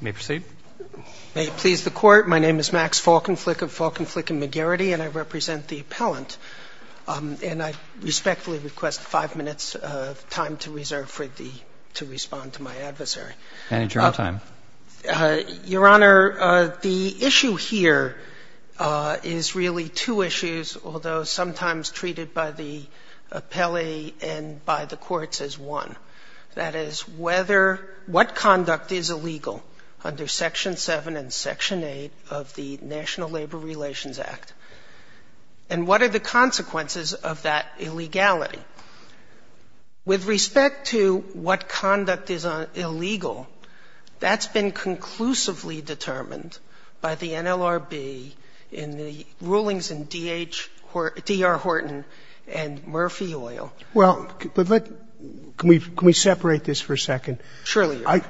May it please the Court, my name is Max Falkenflik of Falkenflik & McGarrity and I represent the appellant. And I respectfully request five minutes of time to reserve to respond to my adversary. Your Honor, the issue here is really two issues, although sometimes treated by the appellee and by the courts as one. The first issue is whether or not, that is, what conduct is illegal under Section 7 and Section 8 of the National Labor Relations Act and what are the consequences of that illegality. With respect to what conduct is illegal, that's been conclusively determined by the NLRB in the rulings in D.R. Horton and Murphy Oil. Well, can we separate this for a second? Surely, Your Honor.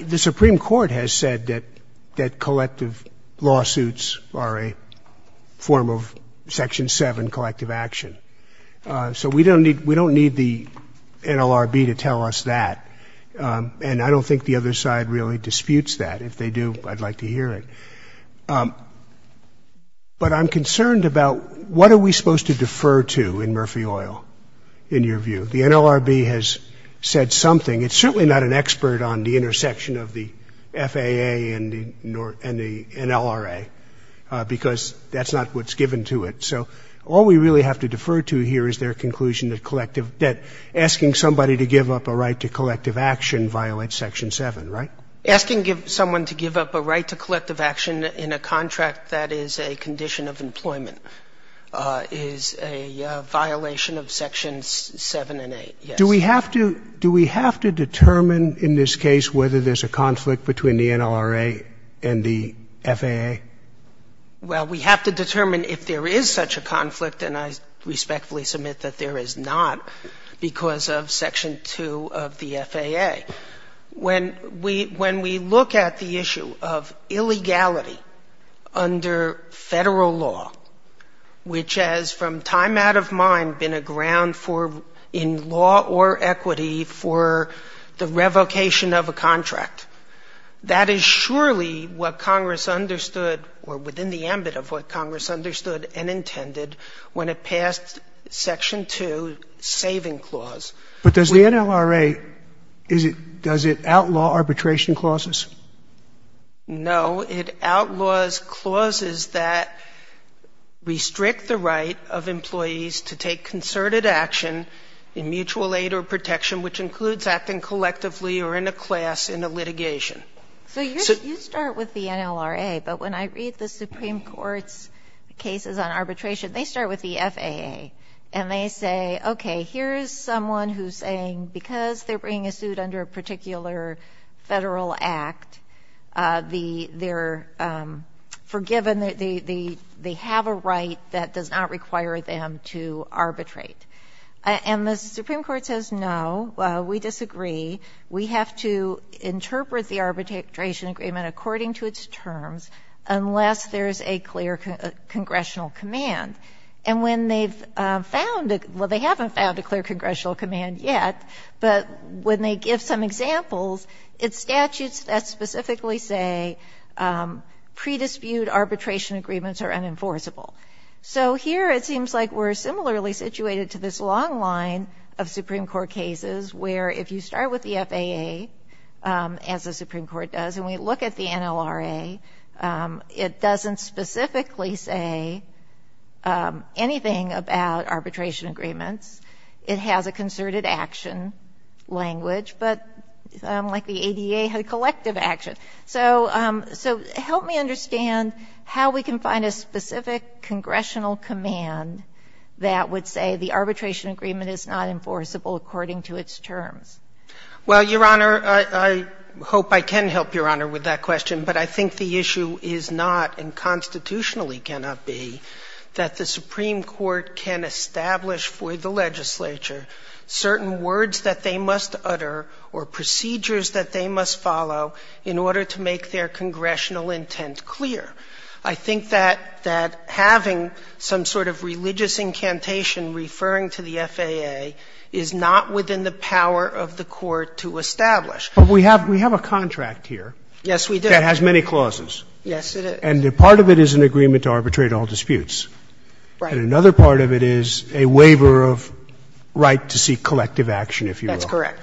The Supreme Court has said that collective lawsuits are a form of Section 7 collective action. So we don't need the NLRB to tell us that. And I don't think the other side really disputes that. If they do, I'd like to hear it. But I'm concerned about what are we supposed to defer to in Murphy Oil, in your view? The NLRB has said something. It's certainly not an expert on the intersection of the FAA and the NLRA, because that's not what's given to it. So all we really have to defer to here is their conclusion that asking somebody to give up a right to collective action violates Section 7, right? Asking someone to give up a right to collective action in a contract that is a condition of employment is a violation of Sections 7 and 8, yes. Do we have to determine in this case whether there's a conflict between the NLRA and the FAA? Well, we have to determine if there is such a conflict, and I respectfully submit that there is not, because of Section 2 of the FAA. When we look at the issue of illegality under Federal law, which has from time out of mind been a ground for, in law or equity, for the revocation of a contract, that is surely what Congress understood, or within the ambit of what Congress understood and intended, when it passed Section 2, saving clause. But does the NLRA, does it outlaw arbitration clauses? No. It outlaws clauses that restrict the right of employees to take concerted action in mutual aid or protection, which includes acting collectively or in a class in a litigation. So you start with the NLRA, but when I read the Supreme Court's cases on arbitration, they start with the FAA, and they say, okay, here's someone who's saying because they're bringing a suit under a particular Federal act, they're forgiven, they have a right that does not require them to arbitrate. And the Supreme Court says, no, we disagree, we have to interpret the arbitration agreement according to its terms unless there's a clear congressional command. And when they've found a — well, they haven't found a clear congressional command yet, but when they give some examples, it's statutes that specifically say predispute arbitration agreements are unenforceable. So here it seems like we're similarly situated to this long line of Supreme Court cases where if you start with the FAA, as the Supreme Court does, and we look at the NLRA, it doesn't specifically say anything about arbitration agreements. It has a concerted action language, but like the ADA, collective action. So help me understand how we can find a specific congressional command that would say the arbitration agreement is not enforceable according to its terms. Well, Your Honor, I hope I can help Your Honor with that question, but I think the issue is not, and constitutionally cannot be, that the Supreme Court can establish for the legislature certain words that they must utter or procedures that they must follow in order to make their congressional intent clear. I think that having some sort of religious incantation referring to the FAA is not within the power of the court to establish. But we have a contract here. Yes, we do. That has many clauses. Yes, it is. And part of it is an agreement to arbitrate all disputes. Right. And another part of it is a waiver of right to seek collective action, if you will. That's correct.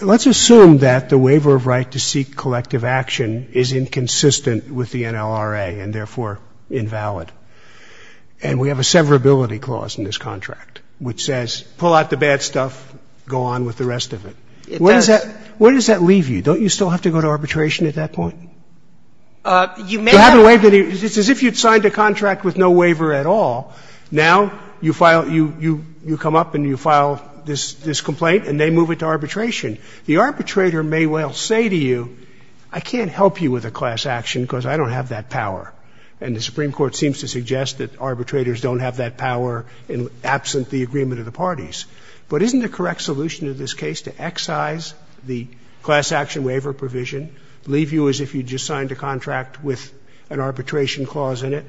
Let's assume that the waiver of right to seek collective action is inconsistent with the NLRA and therefore invalid, and we have a severability clause in this contract which says pull out the bad stuff, go on with the rest of it. It does. Where does that leave you? Don't you still have to go to arbitration at that point? You may have to waive it. It's as if you had signed a contract with no waiver at all. Now you file you come up and you file this complaint and they move it to arbitration. The arbitrator may well say to you, I can't help you with a class action because I don't have that power. And the Supreme Court seems to suggest that arbitrators don't have that power absent the agreement of the parties. But isn't the correct solution in this case to excise the class action waiver provision, leave you as if you just signed a contract with an arbitration clause in it,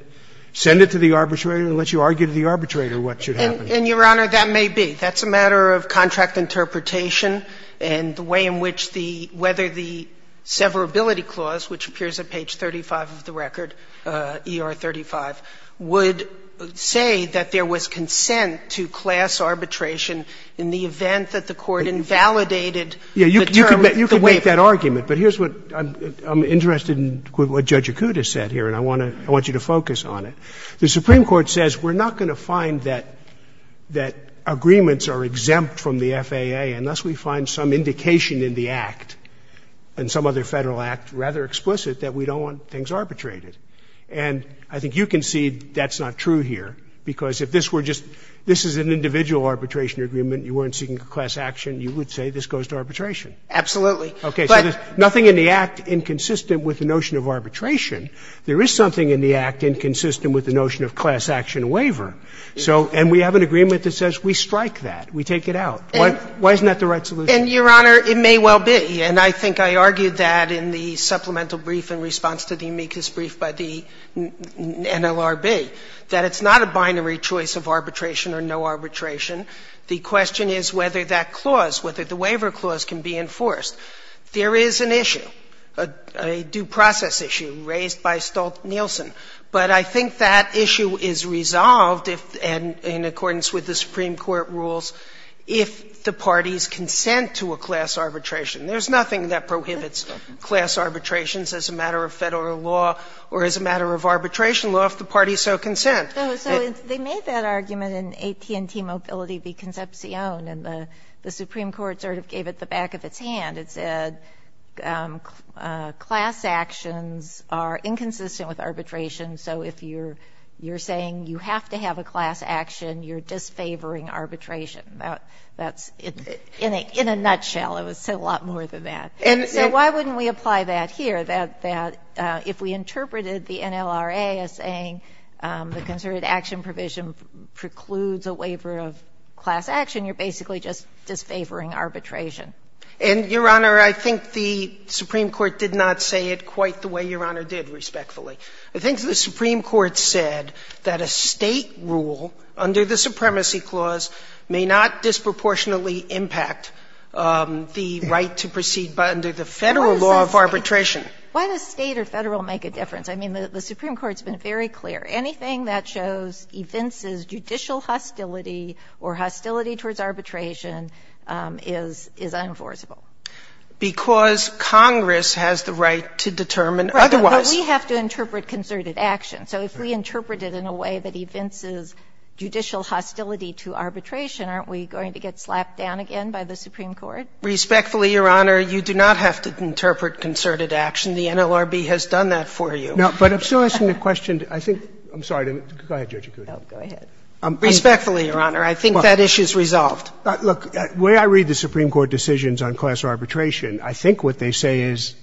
send it to the arbitrator and let you argue to the arbitrator what should happen? And, Your Honor, that may be. That's a matter of contract interpretation and the way in which the – whether the severability clause, which appears at page 35 of the record, ER 35, would say that there was consent to class arbitration in the event that the court invalidated the term, the waiver. You could make that argument, but here's what – I'm interested in what Judge Jakuta said here, and I want to – I want you to focus on it. The Supreme Court says we're not going to find that agreements are exempt from the FAA unless we find some indication in the Act and some other Federal Act, rather explicit, that we don't want things arbitrated. And I think you can see that's not true here, because if this were just – this is an individual arbitration agreement. You weren't seeking class action. You would say this goes to arbitration. Absolutely. Okay. So there's nothing in the Act inconsistent with the notion of arbitration. There is something in the Act inconsistent with the notion of class action waiver. So – and we have an agreement that says we strike that. We take it out. Why isn't that the right solution? And, Your Honor, it may well be. And I think I argued that in the supplemental brief in response to the amicus brief by the NLRB, that it's not a binary choice of arbitration or no arbitration. The question is whether that clause, whether the waiver clause, can be enforced. There is an issue, a due process issue, raised by Stolt-Nielsen. But I think that issue is resolved if, and in accordance with the Supreme Court rules, if the parties consent to a class arbitration. There's nothing that prohibits class arbitrations as a matter of Federal law or as a matter of arbitration law if the parties so consent. So they made that argument in AT&T Mobility v. Concepcion. And the Supreme Court sort of gave it the back of its hand. It said class actions are inconsistent with arbitration. So if you're saying you have to have a class action, you're disfavoring arbitration. That's in a nutshell. It was a lot more than that. And so why wouldn't we apply that here, that if we interpreted the NLRA as saying the concerted action provision precludes a waiver of class action, you're basically just disfavoring arbitration? And, Your Honor, I think the Supreme Court did not say it quite the way Your Honor did, respectfully. I think the Supreme Court said that a State rule under the Supremacy Clause may not disproportionately impact the right to proceed under the Federal law of arbitration. Why does State or Federal make a difference? I mean, the Supreme Court's been very clear. Anything that shows evinces judicial hostility or hostility towards arbitration is unenforceable. Because Congress has the right to determine otherwise. Right. But we have to interpret concerted action. So if we interpret it in a way that evinces judicial hostility to arbitration, aren't we going to get slapped down again by the Supreme Court? Respectfully, Your Honor, you do not have to interpret concerted action. The NLRB has done that for you. No, but I'm still asking a question. I think – I'm sorry. Go ahead, Judge Sotomayor. Respectfully, Your Honor, I think that issue is resolved. Look, the way I read the Supreme Court decisions on class arbitration, I think what they say is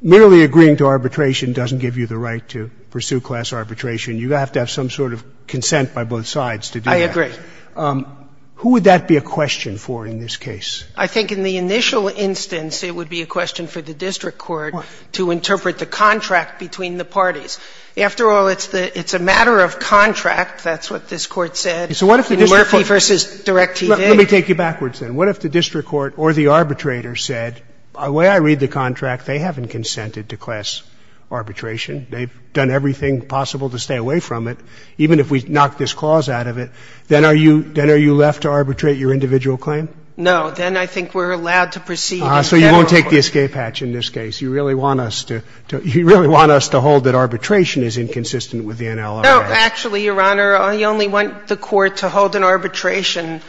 merely agreeing to arbitration doesn't give you the right to pursue class arbitration. You have to have some sort of consent by both sides to do that. I agree. Who would that be a question for in this case? I think in the initial instance, it would be a question for the district court to interpret the contract between the parties. After all, it's the – it's a matter of contract. That's what this Court said in Murphy v. Direct TV. Let me take you backwards then. What if the district court or the arbitrator said, the way I read the contract, they haven't consented to class arbitration, they've done everything possible to stay away from it, even if we knock this clause out of it, then are you – then are you left to arbitrate your individual claim? No. Then I think we're allowed to proceed in federal court. So you won't take the escape hatch in this case. You really want us to – you really want us to hold that arbitration is inconsistent with the NLR Act. No. Actually, Your Honor, I only want the Court to hold an arbitration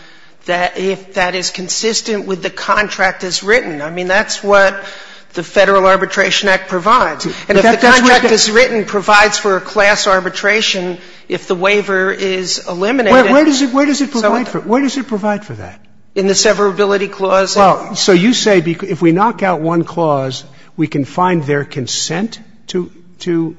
that – if that is consistent with the contract as written. I mean, that's what the Federal Arbitration Act provides. And if the contract as written provides for a class arbitration, if the waiver is eliminated – Wait. Where does it – where does it provide for it? Where does it provide for that? In the severability clause. Well, so you say if we knock out one clause, we can find their consent to – to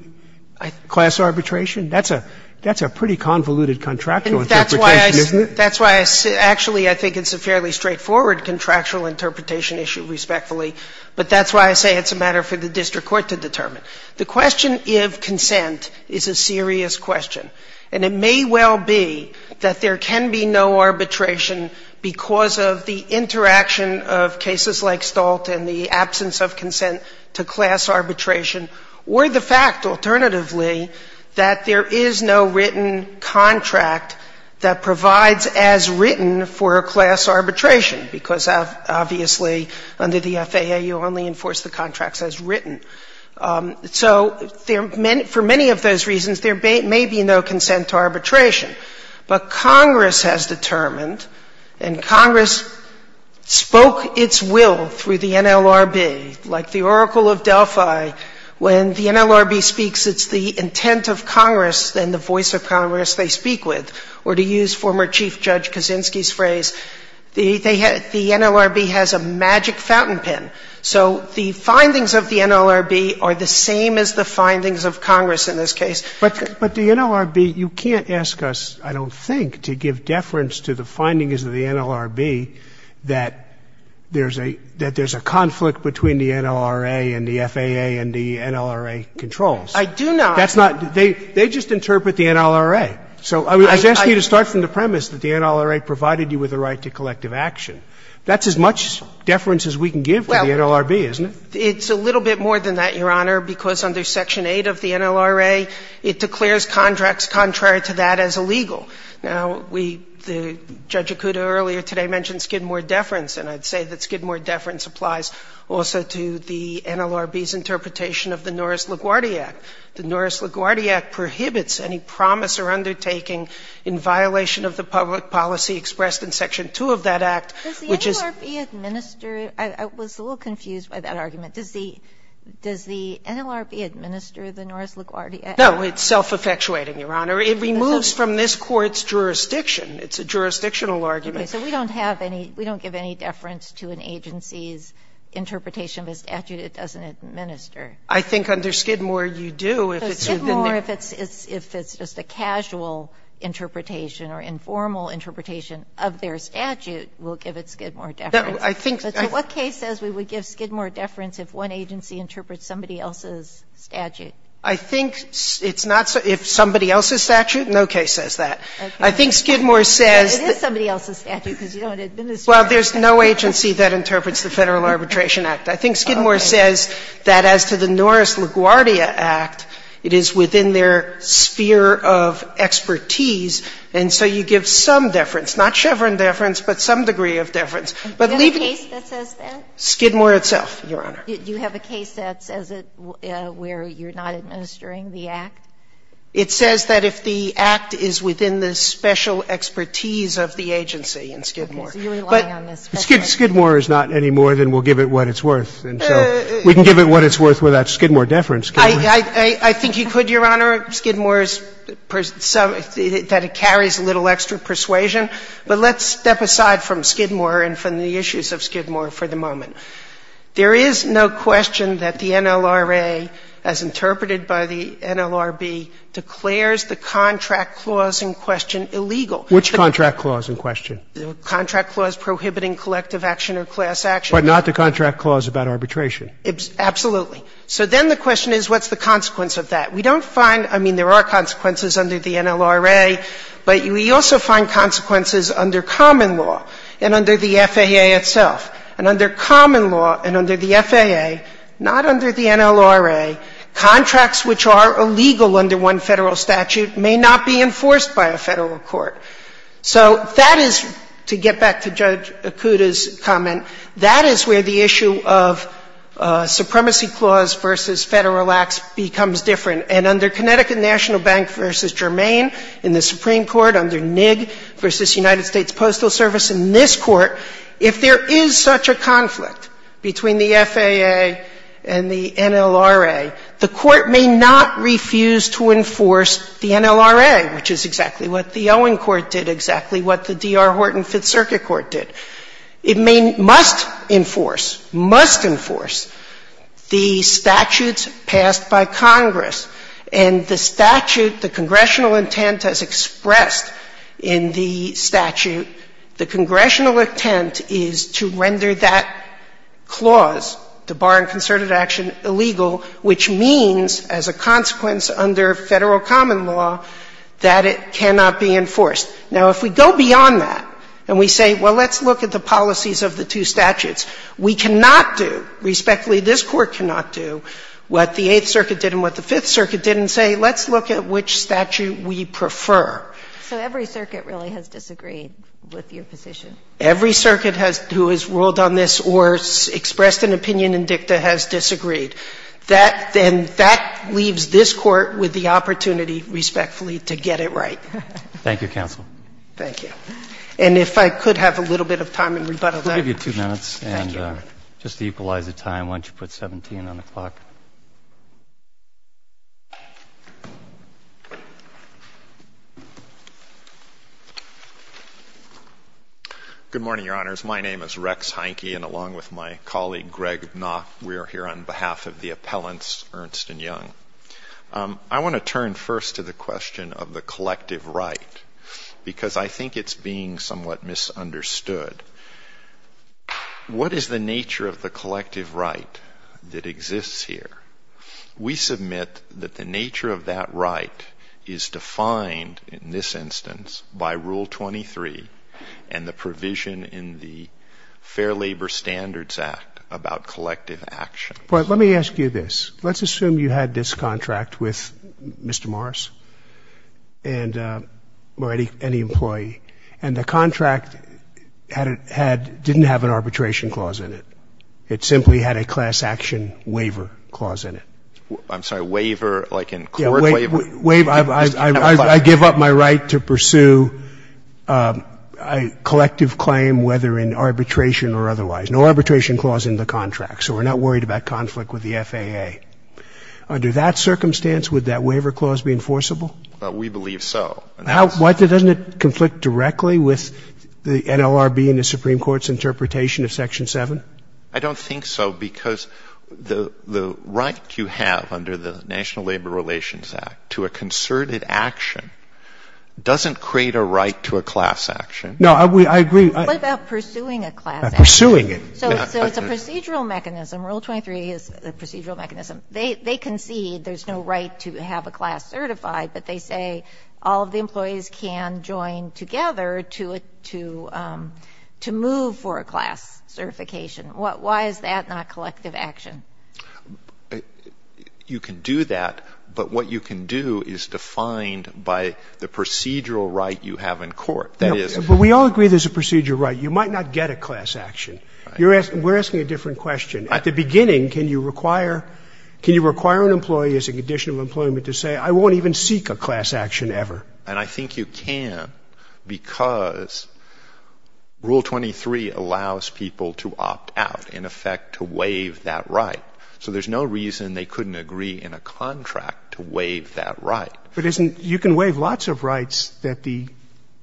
class arbitration? That's a – that's a pretty convoluted contractual interpretation, isn't it? And that's why I – that's why I – actually, I think it's a fairly straightforward contractual interpretation issue, respectfully. But that's why I say it's a matter for the district court to determine. The question if consent is a serious question. And it may well be that there can be no arbitration because of the interaction of cases like Stolt and the absence of consent to class arbitration, or the fact, alternatively, that there is no written contract that provides as written for a class arbitration, because obviously, under the FAA, you only enforce the contracts as written. So for many of those reasons, there may be no consent to arbitration. But Congress has determined, and Congress spoke its will through the NLRB, like the Oracle of Delphi. When the NLRB speaks, it's the intent of Congress and the voice of Congress they speak with, or to use former Chief Judge Kaczynski's phrase, the NLRB has a magic fountain pen. So the findings of the NLRB are the same as the findings of Congress in this case. But the NLRB, you can't ask us, I don't think, to give deference to the findings of the NLRB that there's a conflict between the NLRA and the FAA and the NLRA controls. I do not. That's not. They just interpret the NLRA. So I was asking you to start from the premise that the NLRA provided you with a right to collective action. That's as much deference as we can give to the NLRB, isn't it? Well, it's a little bit more than that, Your Honor, because under Section 8 of the NLRA, it declares contracts contrary to that as illegal. Now, we, Judge Akuta earlier today mentioned Skidmore deference, and I'd say that Skidmore deference applies also to the NLRB's interpretation of the Norris-LaGuardia Act. The Norris-LaGuardia Act prohibits any promise or undertaking in violation of the public policy expressed in Section 2 of that Act, which is. Does the NLRB administer? I was a little confused by that argument. Does the NLRB administer the Norris-LaGuardia Act? No, it's self-effectuating, Your Honor. It removes from this Court's jurisdiction. It's a jurisdictional argument. Okay. So we don't have any – we don't give any deference to an agency's interpretation of a statute it doesn't administer. I think under Skidmore you do. Well, Skidmore, if it's just a casual interpretation or informal interpretation of their statute, will give it Skidmore deference. No, I think. So what case says we would give Skidmore deference if one agency interprets somebody else's statute? I think it's not – if somebody else's statute, no case says that. I think Skidmore says. It is somebody else's statute because you don't administer it. Well, there's no agency that interprets the Federal Arbitration Act. I think Skidmore says that as to the Norris-LaGuardia Act, it is within their sphere of expertise. And so you give some deference, not Chevron deference, but some degree of deference. But leave it. Do you have a case that says that? Skidmore itself, Your Honor. Do you have a case that says it where you're not administering the act? It says that if the act is within the special expertise of the agency in Skidmore. So you're relying on the special expertise. Skidmore is not any more than we'll give it what it's worth. And so we can give it what it's worth without Skidmore deference, can't we? I think you could, Your Honor. Skidmore is some – that it carries a little extra persuasion. But let's step aside from Skidmore and from the issues of Skidmore for the moment. There is no question that the NLRA, as interpreted by the NLRB, declares the contract clause in question illegal. Which contract clause in question? The contract clause prohibiting collective action or class action. But not the contract clause about arbitration. Absolutely. So then the question is, what's the consequence of that? We don't find – I mean, there are consequences under the NLRA, but we also find consequences under common law and under the FAA itself. And under common law and under the FAA, not under the NLRA, contracts which are illegal under one Federal statute may not be enforced by a Federal court. So that is – to get back to Judge Akuta's comment – that is where the issue of supremacy clause versus Federal acts becomes different. And under Connecticut National Bank v. Germain in the Supreme Court, under NIGG v. United States Postal Service in this Court, if there is such a conflict between the FAA and the NLRA, the Court may not refuse to enforce the NLRA, which is exactly what the Owen Court did, exactly what the D.R. Horton Fifth Circuit Court did. It may – must enforce, must enforce the statutes passed by Congress. And the statute, the congressional intent as expressed in the statute, the congressional intent is to render that clause, the bar and concerted action, illegal, which means as a consequence under Federal common law, that it cannot be enforced. Now, if we go beyond that and we say, well, let's look at the policies of the two statutes, we cannot do – respectfully, this Court cannot do what the Eighth Circuit did and what the Fifth Circuit did and say, let's look at which statute we prefer. So every circuit really has disagreed with your position? Every circuit has – who has ruled on this or expressed an opinion in dicta has disagreed. That – and that leaves this Court with the opportunity, respectfully, to get it right. Thank you, counsel. Thank you. And if I could have a little bit of time in rebuttal to that. We'll give you two minutes. Thank you, Your Honor. And just to equalize the time, why don't you put 17 on the clock? Good morning, Your Honors. My name is Rex Heinke, and along with my colleague, Greg Knopf, we are here on behalf of the appellants, Ernst and Young. I want to turn first to the question of the collective right, because I think it's being somewhat misunderstood. What is the nature of the collective right that exists here? We submit that the nature of that right is defined in this instance by Rule 23 and the provision in the Fair Labor Standards Act about collective actions. But let me ask you this. Let's assume you had this contract with Mr. Morris and – or any employee. And the contract had – didn't have an arbitration clause in it. It simply had a class action waiver clause in it. I'm sorry, waiver, like in court waiver? I give up my right to pursue a collective claim whether in arbitration or otherwise. No arbitration clause in the contract. So we're not worried about conflict with the FAA. Under that circumstance, would that waiver clause be enforceable? We believe so. Doesn't it conflict directly with the NLRB and the Supreme Court's interpretation of Section 7? I don't think so, because the right you have under the National Labor Relations Act to a concerted action doesn't create a right to a class action. No, I agree. What about pursuing a class action? Pursuing it. So it's a procedural mechanism. Rule 23 is a procedural mechanism. They concede there's no right to have a class certified, but they say all of the is that not collective action? You can do that, but what you can do is defined by the procedural right you have in court. But we all agree there's a procedural right. You might not get a class action. We're asking a different question. At the beginning, can you require an employee as a condition of employment to say I won't even seek a class action ever? And I think you can, because Rule 23 allows people to opt out, in effect to waive that right. So there's no reason they couldn't agree in a contract to waive that right. But you can waive lots of rights at the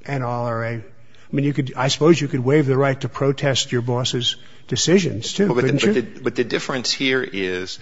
NLRA. I mean, I suppose you could waive the right to protest your boss's decisions too, couldn't you? But the difference here is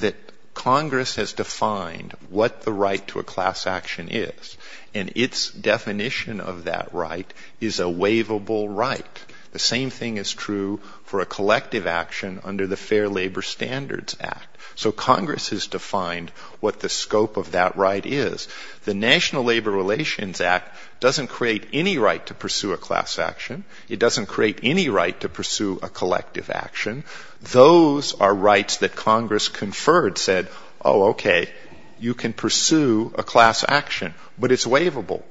that Congress has defined what the right to a class action is, and its definition of that right is a waivable right. The same thing is true for a collective action under the Fair Labor Standards Act. So Congress has defined what the scope of that right is. The National Labor Relations Act doesn't create any right to pursue a class action. It doesn't create any right to pursue a collective action. Those are rights that Congress conferred, said, oh, okay, you can pursue a class action, but it's waivable.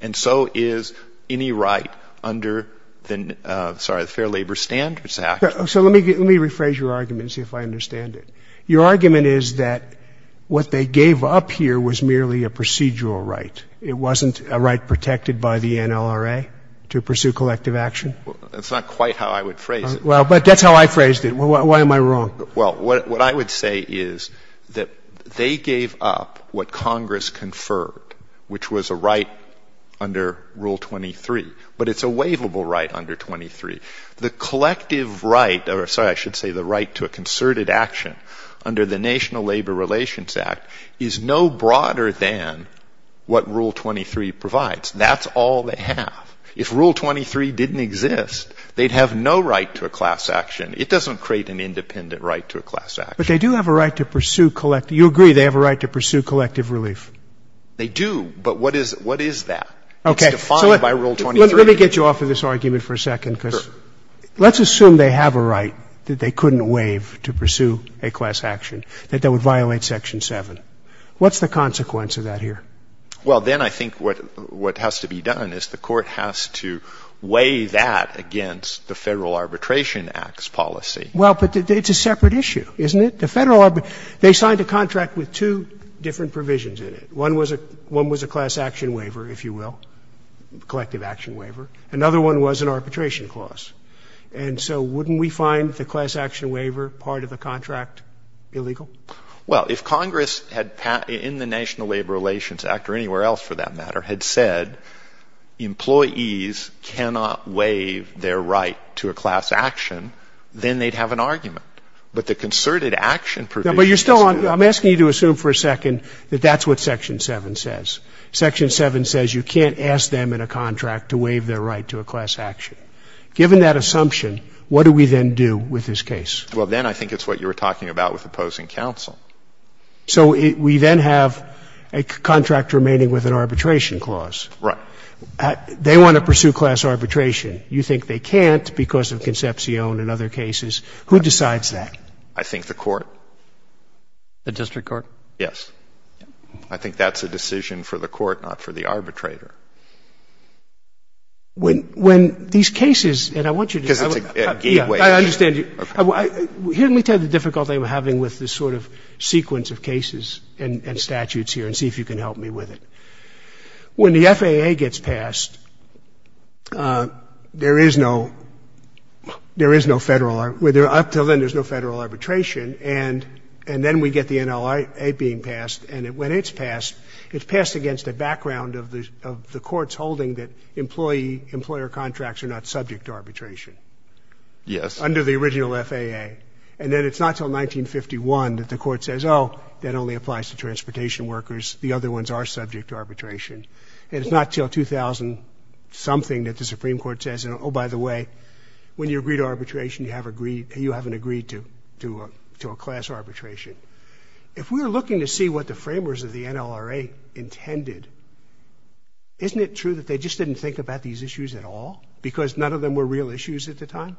And so is any right under the Fair Labor Standards Act. So let me rephrase your argument and see if I understand it. Your argument is that what they gave up here was merely a procedural right. It wasn't a right protected by the NLRA to pursue collective action? That's not quite how I would phrase it. Well, but that's how I phrased it. Why am I wrong? Well, what I would say is that they gave up what Congress conferred, which was a right under Rule 23. But it's a waivable right under 23. The collective right, or sorry, I should say the right to a concerted action under the National Labor Relations Act is no broader than what Rule 23 provides. That's all they have. If Rule 23 didn't exist, they'd have no right to a class action. It doesn't create an independent right to a class action. But they do have a right to pursue collective. You agree they have a right to pursue collective relief? They do. But what is that? Okay. It's defined by Rule 23. Let me get you off of this argument for a second because let's assume they have a right that they couldn't waive to pursue a class action, that that would violate Section 7. What's the consequence of that here? Well, then I think what has to be done is the court has to weigh that against the Federal Arbitration Act's policy. Well, but it's a separate issue, isn't it? The Federal Arbitration Act, they signed a contract with two different provisions in it. One was a class action waiver, if you will, collective action waiver. Another one was an arbitration clause. And so wouldn't we find the class action waiver part of the contract illegal? Well, if Congress had, in the National Labor Relations Act or anywhere else for that right to a class action, then they'd have an argument. But the concerted action provisions do. No, but you're still on. I'm asking you to assume for a second that that's what Section 7 says. Section 7 says you can't ask them in a contract to waive their right to a class action. Given that assumption, what do we then do with this case? Well, then I think it's what you were talking about with opposing counsel. So we then have a contract remaining with an arbitration clause. Right. They want to pursue class arbitration. You think they can't because of Concepcion and other cases. Who decides that? I think the court. The district court? Yes. I think that's a decision for the court, not for the arbitrator. When these cases, and I want you to just tell me. Because it's a gateway issue. I understand you. Okay. Here, let me tell you the difficulty I'm having with this sort of sequence of cases and statutes here and see if you can help me with it. When the FAA gets passed, there is no Federal arbitration. And then we get the NLAA being passed. And when it's passed, it's passed against a background of the Court's holding that employee, employer contracts are not subject to arbitration. Yes. Under the original FAA. And then it's not until 1951 that the Court says, oh, that only applies to transportation workers. The other ones are subject to arbitration. And it's not until 2000-something that the Supreme Court says, oh, by the way, when you agree to arbitration, you haven't agreed to a class arbitration. If we're looking to see what the framers of the NLAA intended, isn't it true that they just didn't think about these issues at all? Because none of them were real issues at the time?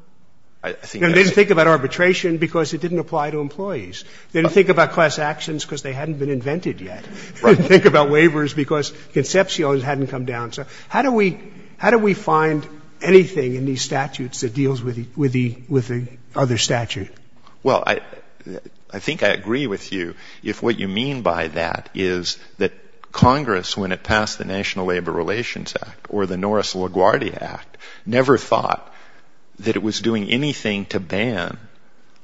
They didn't think about arbitration because it didn't apply to employees. They didn't think about class actions because they hadn't been invented yet. They didn't think about waivers because conceptions hadn't come down. So how do we find anything in these statutes that deals with the other statute? Well, I think I agree with you if what you mean by that is that Congress, when it passed the National Labor Relations Act or the Norris-LaGuardia Act, never thought that it was doing anything to ban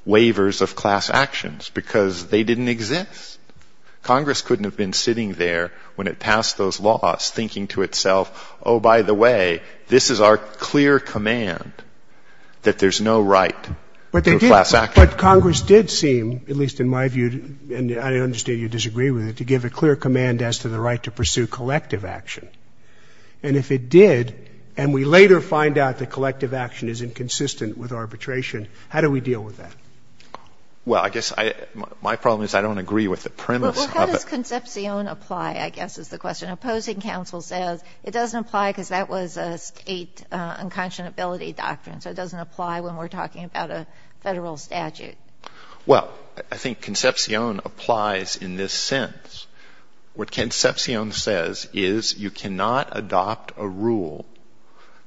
waivers of class actions because they didn't exist. Congress couldn't have been sitting there when it passed those laws thinking to itself, oh, by the way, this is our clear command that there's no right to a class action. But Congress did seem, at least in my view, and I understand you disagree with it, to give a clear command as to the right to pursue collective action. And if it did, and we later find out that collective action is inconsistent with arbitration, how do we deal with that? Well, I guess my problem is I don't agree with the premise of it. Well, how does conception apply, I guess, is the question. Opposing counsel says it doesn't apply because that was a state unconscionability doctrine. So it doesn't apply when we're talking about a federal statute. Well, I think conception applies in this sense. What conception says is you cannot adopt a rule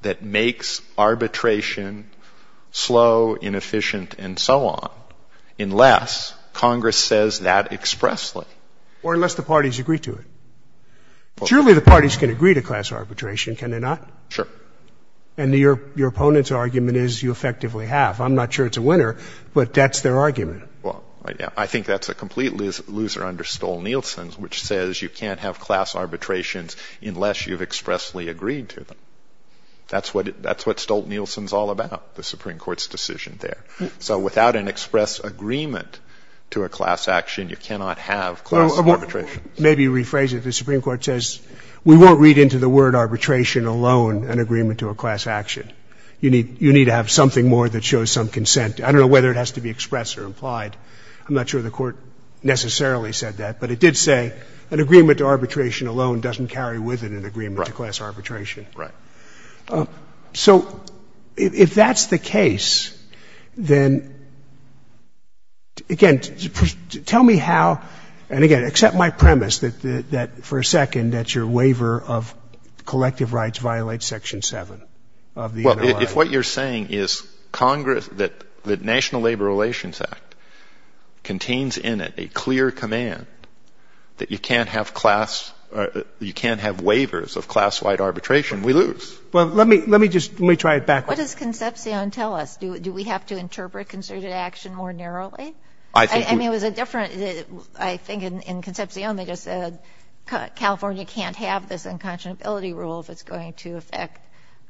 that makes arbitration slow, inefficient, and so on unless Congress says that expressly. Or unless the parties agree to it. Surely the parties can agree to class arbitration, can they not? Sure. And your opponent's argument is you effectively have. I'm not sure it's a winner, but that's their argument. Well, I think that's a complete loser under Stolt-Nielsen, which says you can't have class arbitrations unless you've expressly agreed to them. That's what Stolt-Nielsen's all about, the Supreme Court's decision there. So without an express agreement to a class action, you cannot have class arbitration. Maybe rephrase it. The Supreme Court says we won't read into the word arbitration alone an agreement to a class action. You need to have something more that shows some consent. I don't know whether it has to be expressed or implied. I'm not sure the Court necessarily said that, but it did say an agreement to arbitration alone doesn't carry with it an agreement to class arbitration. Right. So if that's the case, then, again, tell me how, and, again, accept my premise that, for a second, that your waiver of collective rights violates Section 7 of the Interlaw. Well, if what you're saying is that the National Labor Relations Act contains in it a clear command that you can't have waivers of class-wide arbitration, then we lose. Well, let me just, let me try it back. What does Concepcion tell us? Do we have to interpret concerted action more narrowly? I mean, it was a different, I think in Concepcion they just said California can't have this unconscionability rule if it's going to affect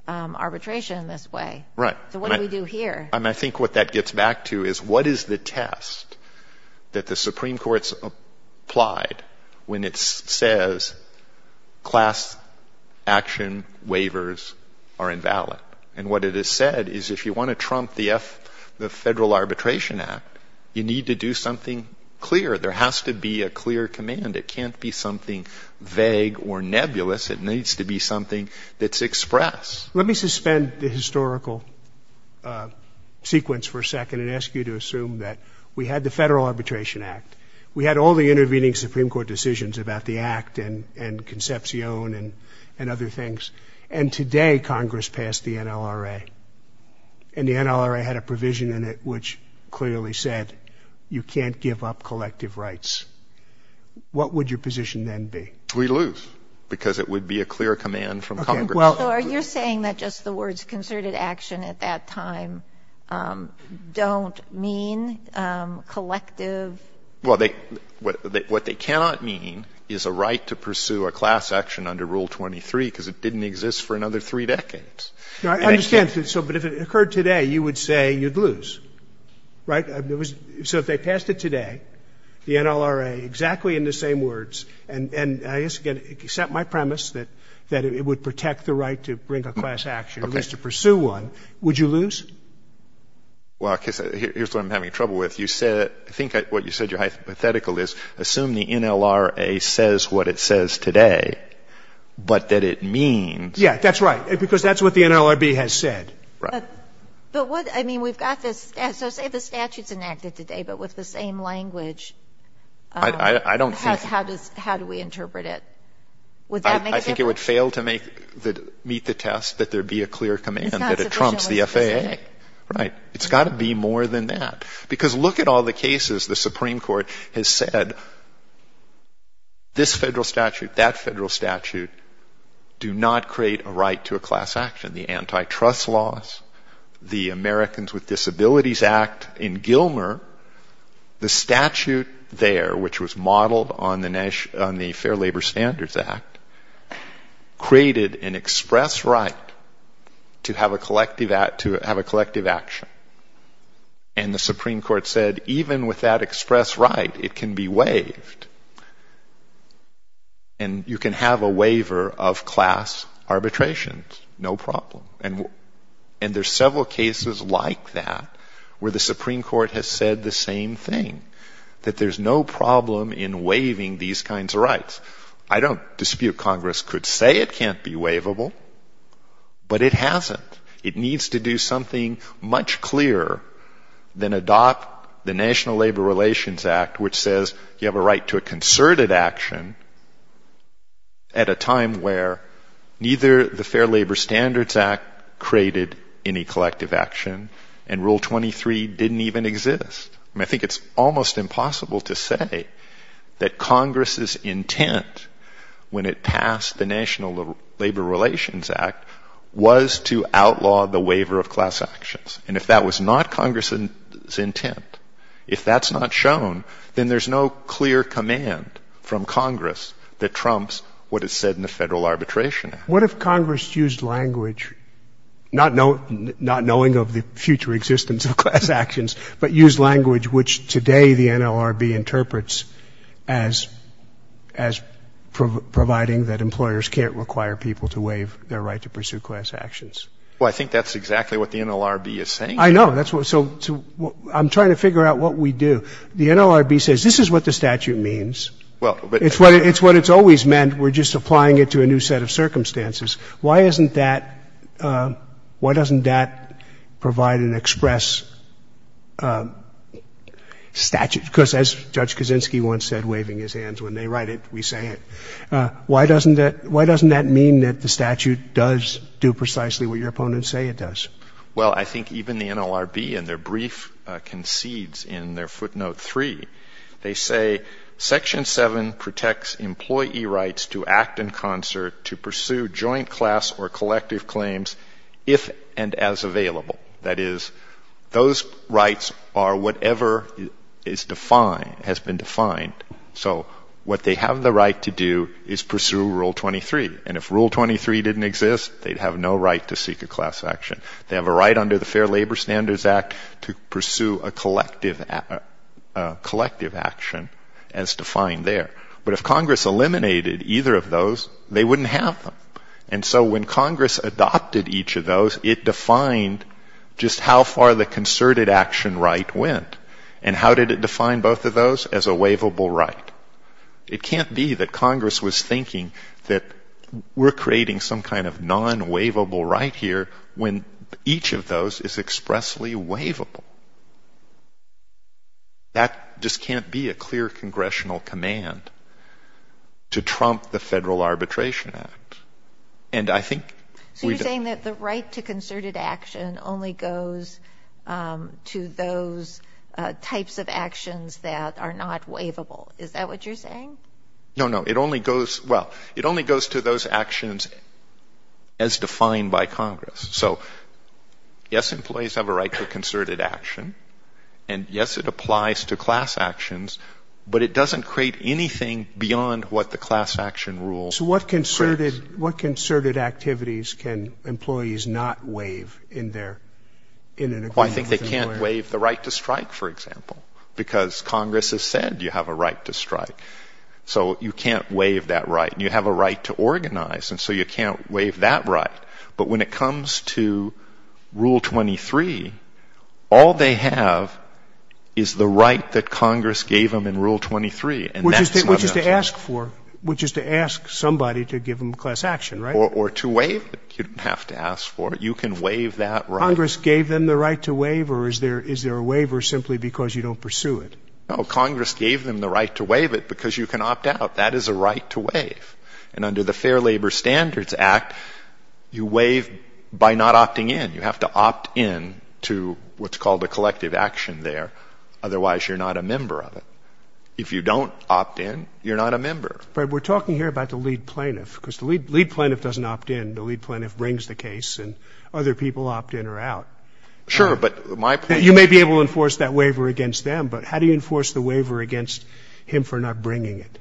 arbitration in this way. Right. So what do we do here? I mean, I think what that gets back to is what is the test that the Supreme Court has applied when it says class action waivers are invalid. And what it has said is if you want to trump the Federal Arbitration Act, you need to do something clear. There has to be a clear command. It can't be something vague or nebulous. It needs to be something that's expressed. Let me suspend the historical sequence for a second and ask you to assume that we had the Federal Arbitration Act. We had all the intervening Supreme Court decisions about the Act and Concepcion and other things. And today Congress passed the NLRA. And the NLRA had a provision in it which clearly said you can't give up collective rights. What would your position then be? We lose because it would be a clear command from Congress. So are you saying that just the words concerted action at that time don't mean collective? Well, what they cannot mean is a right to pursue a class action under Rule 23 because it didn't exist for another three decades. I understand. But if it occurred today, you would say you'd lose. Right? So if they passed it today, the NLRA, exactly in the same words, and I guess, again, except my premise that it would protect the right to bring a class action, at least to pursue one, would you lose? Well, here's what I'm having trouble with. You said, I think what you said, you're hypothetical, is assume the NLRA says what it says today, but that it means. Yeah, that's right, because that's what the NLRB has said. Right. But what, I mean, we've got this, so say the statute's enacted today, but with the same language. I don't think. How do we interpret it? Would that make a difference? I think it would fail to meet the test that there be a clear command that it trumps the FAA. Right. It's got to be more than that. Because look at all the cases the Supreme Court has said, this federal statute, that federal statute, do not create a right to a class action. The Antitrust Laws, the Americans with Disabilities Act in Gilmer, the statute there, which was modeled on the Fair Labor Standards Act, created an express right to have a collective action. And the Supreme Court said, even with that express right, it can be waived. And you can have a waiver of class arbitrations, no problem. And there's several cases like that where the Supreme Court has said the same thing, that there's no problem in waiving these kinds of rights. I don't dispute Congress could say it can't be waivable, but it hasn't. It needs to do something much clearer than adopt the National Labor Relations Act, which says you have a right to a concerted action at a time where neither the Fair Labor Standards Act created any collective action, and Rule 23 didn't even exist. I mean, I think it's almost impossible to say that Congress's intent when it passed the National Labor Relations Act was to outlaw the waiver of class actions. And if that was not Congress's intent, if that's not shown, then there's no clear command from Congress that trumps what is said in the Federal Arbitration Act. What if Congress used language, not knowing of the future existence of class actions, but used language which today the NLRB interprets as providing that employers can't require people to waive their right to pursue class actions? Well, I think that's exactly what the NLRB is saying. I know. So I'm trying to figure out what we do. The NLRB says this is what the statute means. It's what it's always meant. We're just applying it to a new set of circumstances. Why doesn't that provide an express statute? Because as Judge Kaczynski once said, waving his hands when they write it, we say it. Why doesn't that mean that the statute does do precisely what your opponents say it does? Well, I think even the NLRB in their brief concedes in their footnote 3. They say Section 7 protects employee rights to act in concert to pursue joint class or collective claims if and as available. That is, those rights are whatever is defined, has been defined. So what they have the right to do is pursue Rule 23. And if Rule 23 didn't exist, they'd have no right to seek a class action. They have a right under the Fair Labor Standards Act to pursue a collective action as defined there. But if Congress eliminated either of those, they wouldn't have them. And so when Congress adopted each of those, it defined just how far the concerted action right went. And how did it define both of those? As a waivable right. It can't be that Congress was thinking that we're creating some kind of non-waivable right here when each of those is expressly waivable. That just can't be a clear congressional command to trump the Federal Arbitration Act. So you're saying that the right to concerted action only goes to those types of actions that are not waivable. Is that what you're saying? No, no. It only goes, well, it only goes to those actions as defined by Congress. So yes, employees have a right to concerted action. And yes, it applies to class actions. But it doesn't create anything beyond what the class action rule says. So what concerted activities can employees not waive in their, in an agreement with an employer? No, I think they can't waive the right to strike, for example. Because Congress has said you have a right to strike. So you can't waive that right. And you have a right to organize, and so you can't waive that right. But when it comes to Rule 23, all they have is the right that Congress gave them in Rule 23. Which is to ask for, which is to ask somebody to give them class action, right? Or to waive it. You can waive that right. Congress gave them the right to waive, or is there a waiver simply because you don't pursue it? No, Congress gave them the right to waive it because you can opt out. That is a right to waive. And under the Fair Labor Standards Act, you waive by not opting in. You have to opt in to what's called a collective action there. Otherwise, you're not a member of it. If you don't opt in, you're not a member. But we're talking here about the lead plaintiff. Because the lead plaintiff doesn't opt in. The lead plaintiff brings the case, and other people opt in or out. Sure, but my point is... You may be able to enforce that waiver against them. But how do you enforce the waiver against him for not bringing it?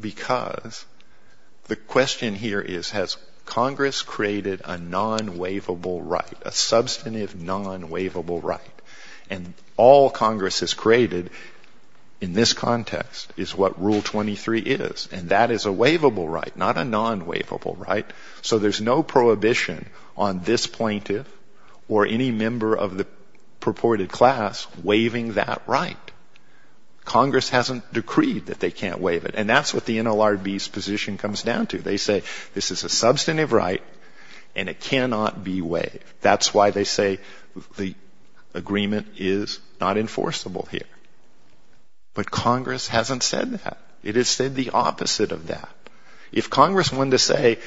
Because the question here is, has Congress created a non-waivable right, a substantive non-waivable right? And all Congress has created in this context is what Rule 23 is. And that is a waivable right, not a non-waivable right. So there's no prohibition on this plaintiff or any member of the purported class waiving that right. Congress hasn't decreed that they can't waive it. And that's what the NLRB's position comes down to. They say this is a substantive right, and it cannot be waived. That's why they say the agreement is not enforceable here. But Congress hasn't said that. It has said the opposite of that. If Congress wanted to say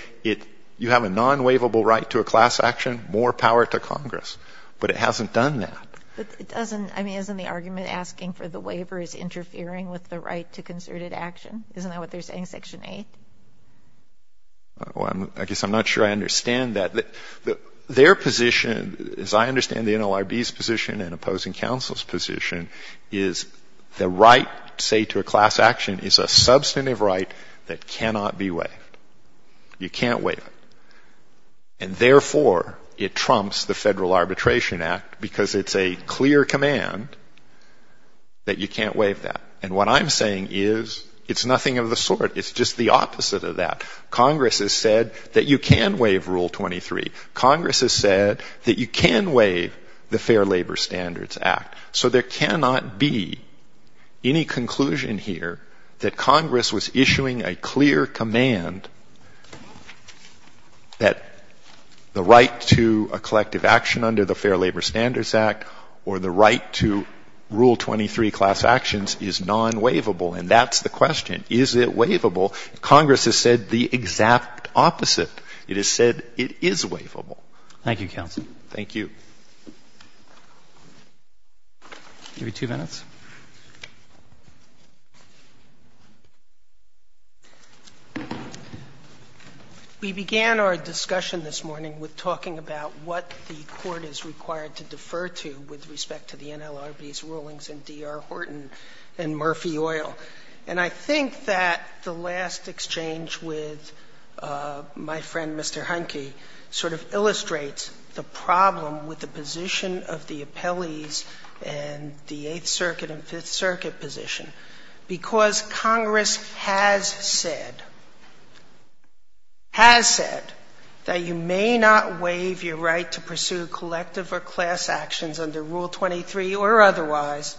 you have a non-waivable right to a class action, more power to Congress. But it hasn't done that. But it doesn't, I mean, isn't the argument asking for the waiver is interfering with the right to concerted action? Isn't that what they're saying, Section 8? Well, I guess I'm not sure I understand that. Their position, as I understand the NLRB's position and opposing counsel's position, is the right, say, to a class action is a substantive right that cannot be waived. You can't waive it. And, therefore, it trumps the Federal Arbitration Act because it's a clear command that you can't waive that. And what I'm saying is it's nothing of the sort. It's just the opposite of that. Congress has said that you can waive Rule 23. Congress has said that you can waive the Fair Labor Standards Act. So there cannot be any conclusion here that Congress was issuing a clear command that the right to a collective action under the Fair Labor Standards Act or the right to Rule 23 class actions is non-waivable. And that's the question. Is it waivable? Congress has said the exact opposite. It has said it is waivable. Thank you, counsel. Thank you. Maybe two minutes. We began our discussion this morning with talking about what the Court is required to defer to with respect to the NLRB's rulings in D.R. Horton and Murphy Oil. And I think that the last exchange with my friend, Mr. Heineke, sort of illustrates the problem with the position of the appellees in the Eighth Circuit and Fifth Circuit position, because Congress has said, has said that you may not waive your right to pursue collective or class actions under Rule 23 or otherwise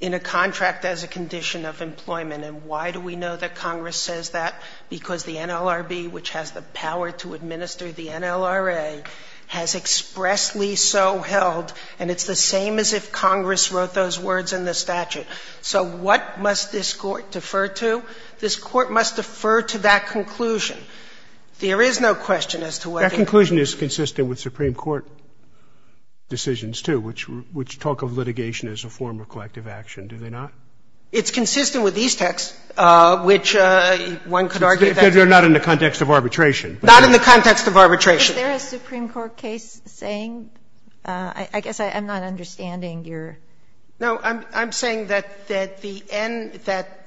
in a contract as a condition of employment. And why do we know that Congress says that? Because the NLRB, which has the power to administer the NLRA, has expressly so held. And it's the same as if Congress wrote those words in the statute. So what must this Court defer to? This Court must defer to that conclusion. There is no question as to what they do. That conclusion is consistent with Supreme Court decisions, too, which talk of litigation as a form of collective action, do they not? It's consistent with these texts, which one could argue that they're not in the context of arbitration. Not in the context of arbitration. If there is a Supreme Court case saying, I guess I'm not understanding your question. No, I'm saying that the end that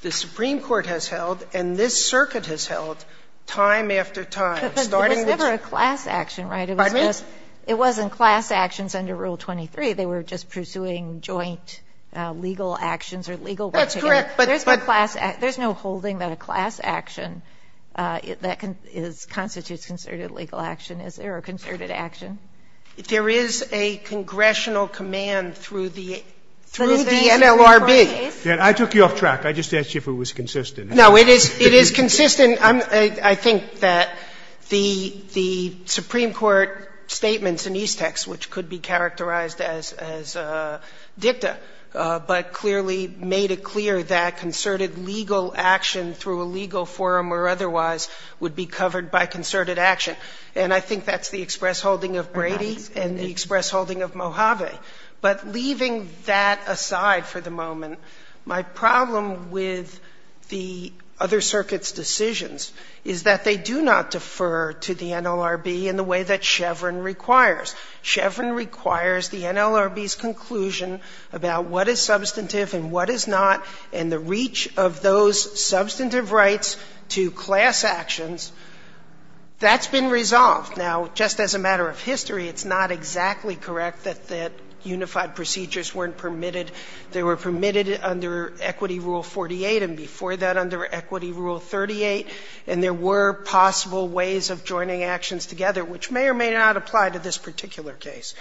the Supreme Court has held and this Circuit has held time after time, starting with Justice Sotomayor. It was never a class action, right? Pardon me? It wasn't class actions under Rule 23. They were just pursuing joint legal actions or legal work together. That's correct, but. There's no class action. There's no holding that a class action that constitutes concerted legal action is there, or concerted action. There is a congressional command through the NLRB. I took you off track. I just asked you if it was consistent. No, it is consistent. I think that the Supreme Court statements in these texts, which could be characterized as dicta, but clearly made it clear that concerted legal action through a legal forum or otherwise would be covered by concerted action. And I think that's the express holding of Brady and the express holding of Mojave. But leaving that aside for the moment, my problem with the other circuits' decisions is that they do not defer to the NLRB in the way that Chevron requires. Chevron requires the NLRB's conclusion about what is substantive and what is not, and the reach of those substantive rights to class actions. That's been resolved. Now, just as a matter of history, it's not exactly correct that unified procedures weren't permitted. They were permitted under Equity Rule 48, and before that under Equity Rule 38. And there were possible ways of joining actions together, which may or may not apply to this particular case.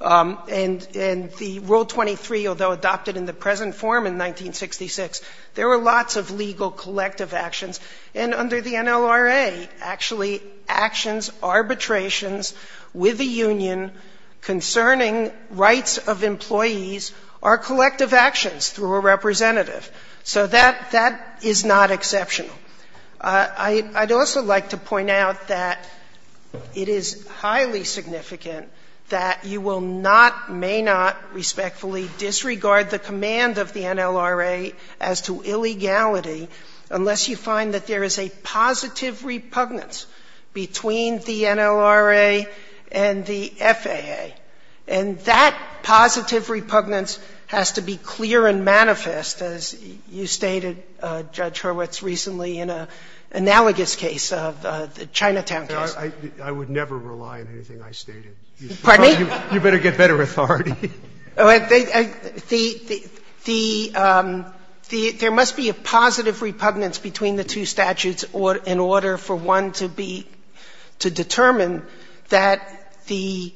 And in the Rule 23, although adopted in the present form in 1966, there were lots of legal collective actions. And under the NLRA, actually, actions, arbitrations with a union concerning rights of employees are collective actions through a representative. So that is not exceptional. I'd also like to point out that it is highly significant that you will not, may not respectfully disregard the command of the NLRA as to illegality unless you find that there is a positive repugnance between the NLRA and the FAA. And that positive repugnance has to be clear and manifest, as you stated, Judge Hurwitz, recently in an analogous case of the Chinatown case. Scalia. I would never rely on anything I stated. Pardon me? You'd better get better authority. There must be a positive repugnance between the two statutes in order for one to be to determine that the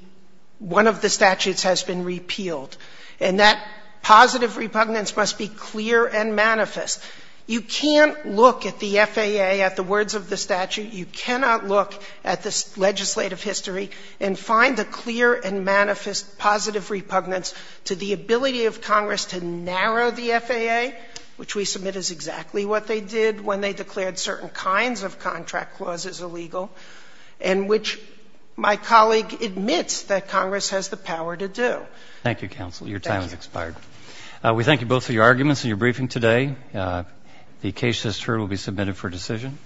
one of the statutes has been repealed, and that positive repugnance must be clear and manifest. You can't look at the FAA, at the words of the statute, you cannot look at the legislative history and find a clear and manifest positive repugnance to the ability of Congress to narrow the FAA, which we submit is exactly what they did when they declared certain kinds of contract clauses illegal, and which my colleague admits that Congress has the power to do. Thank you, counsel. Your time has expired. Thank you. We thank you both for your arguments and your briefing today. The case list here will be submitted for decision.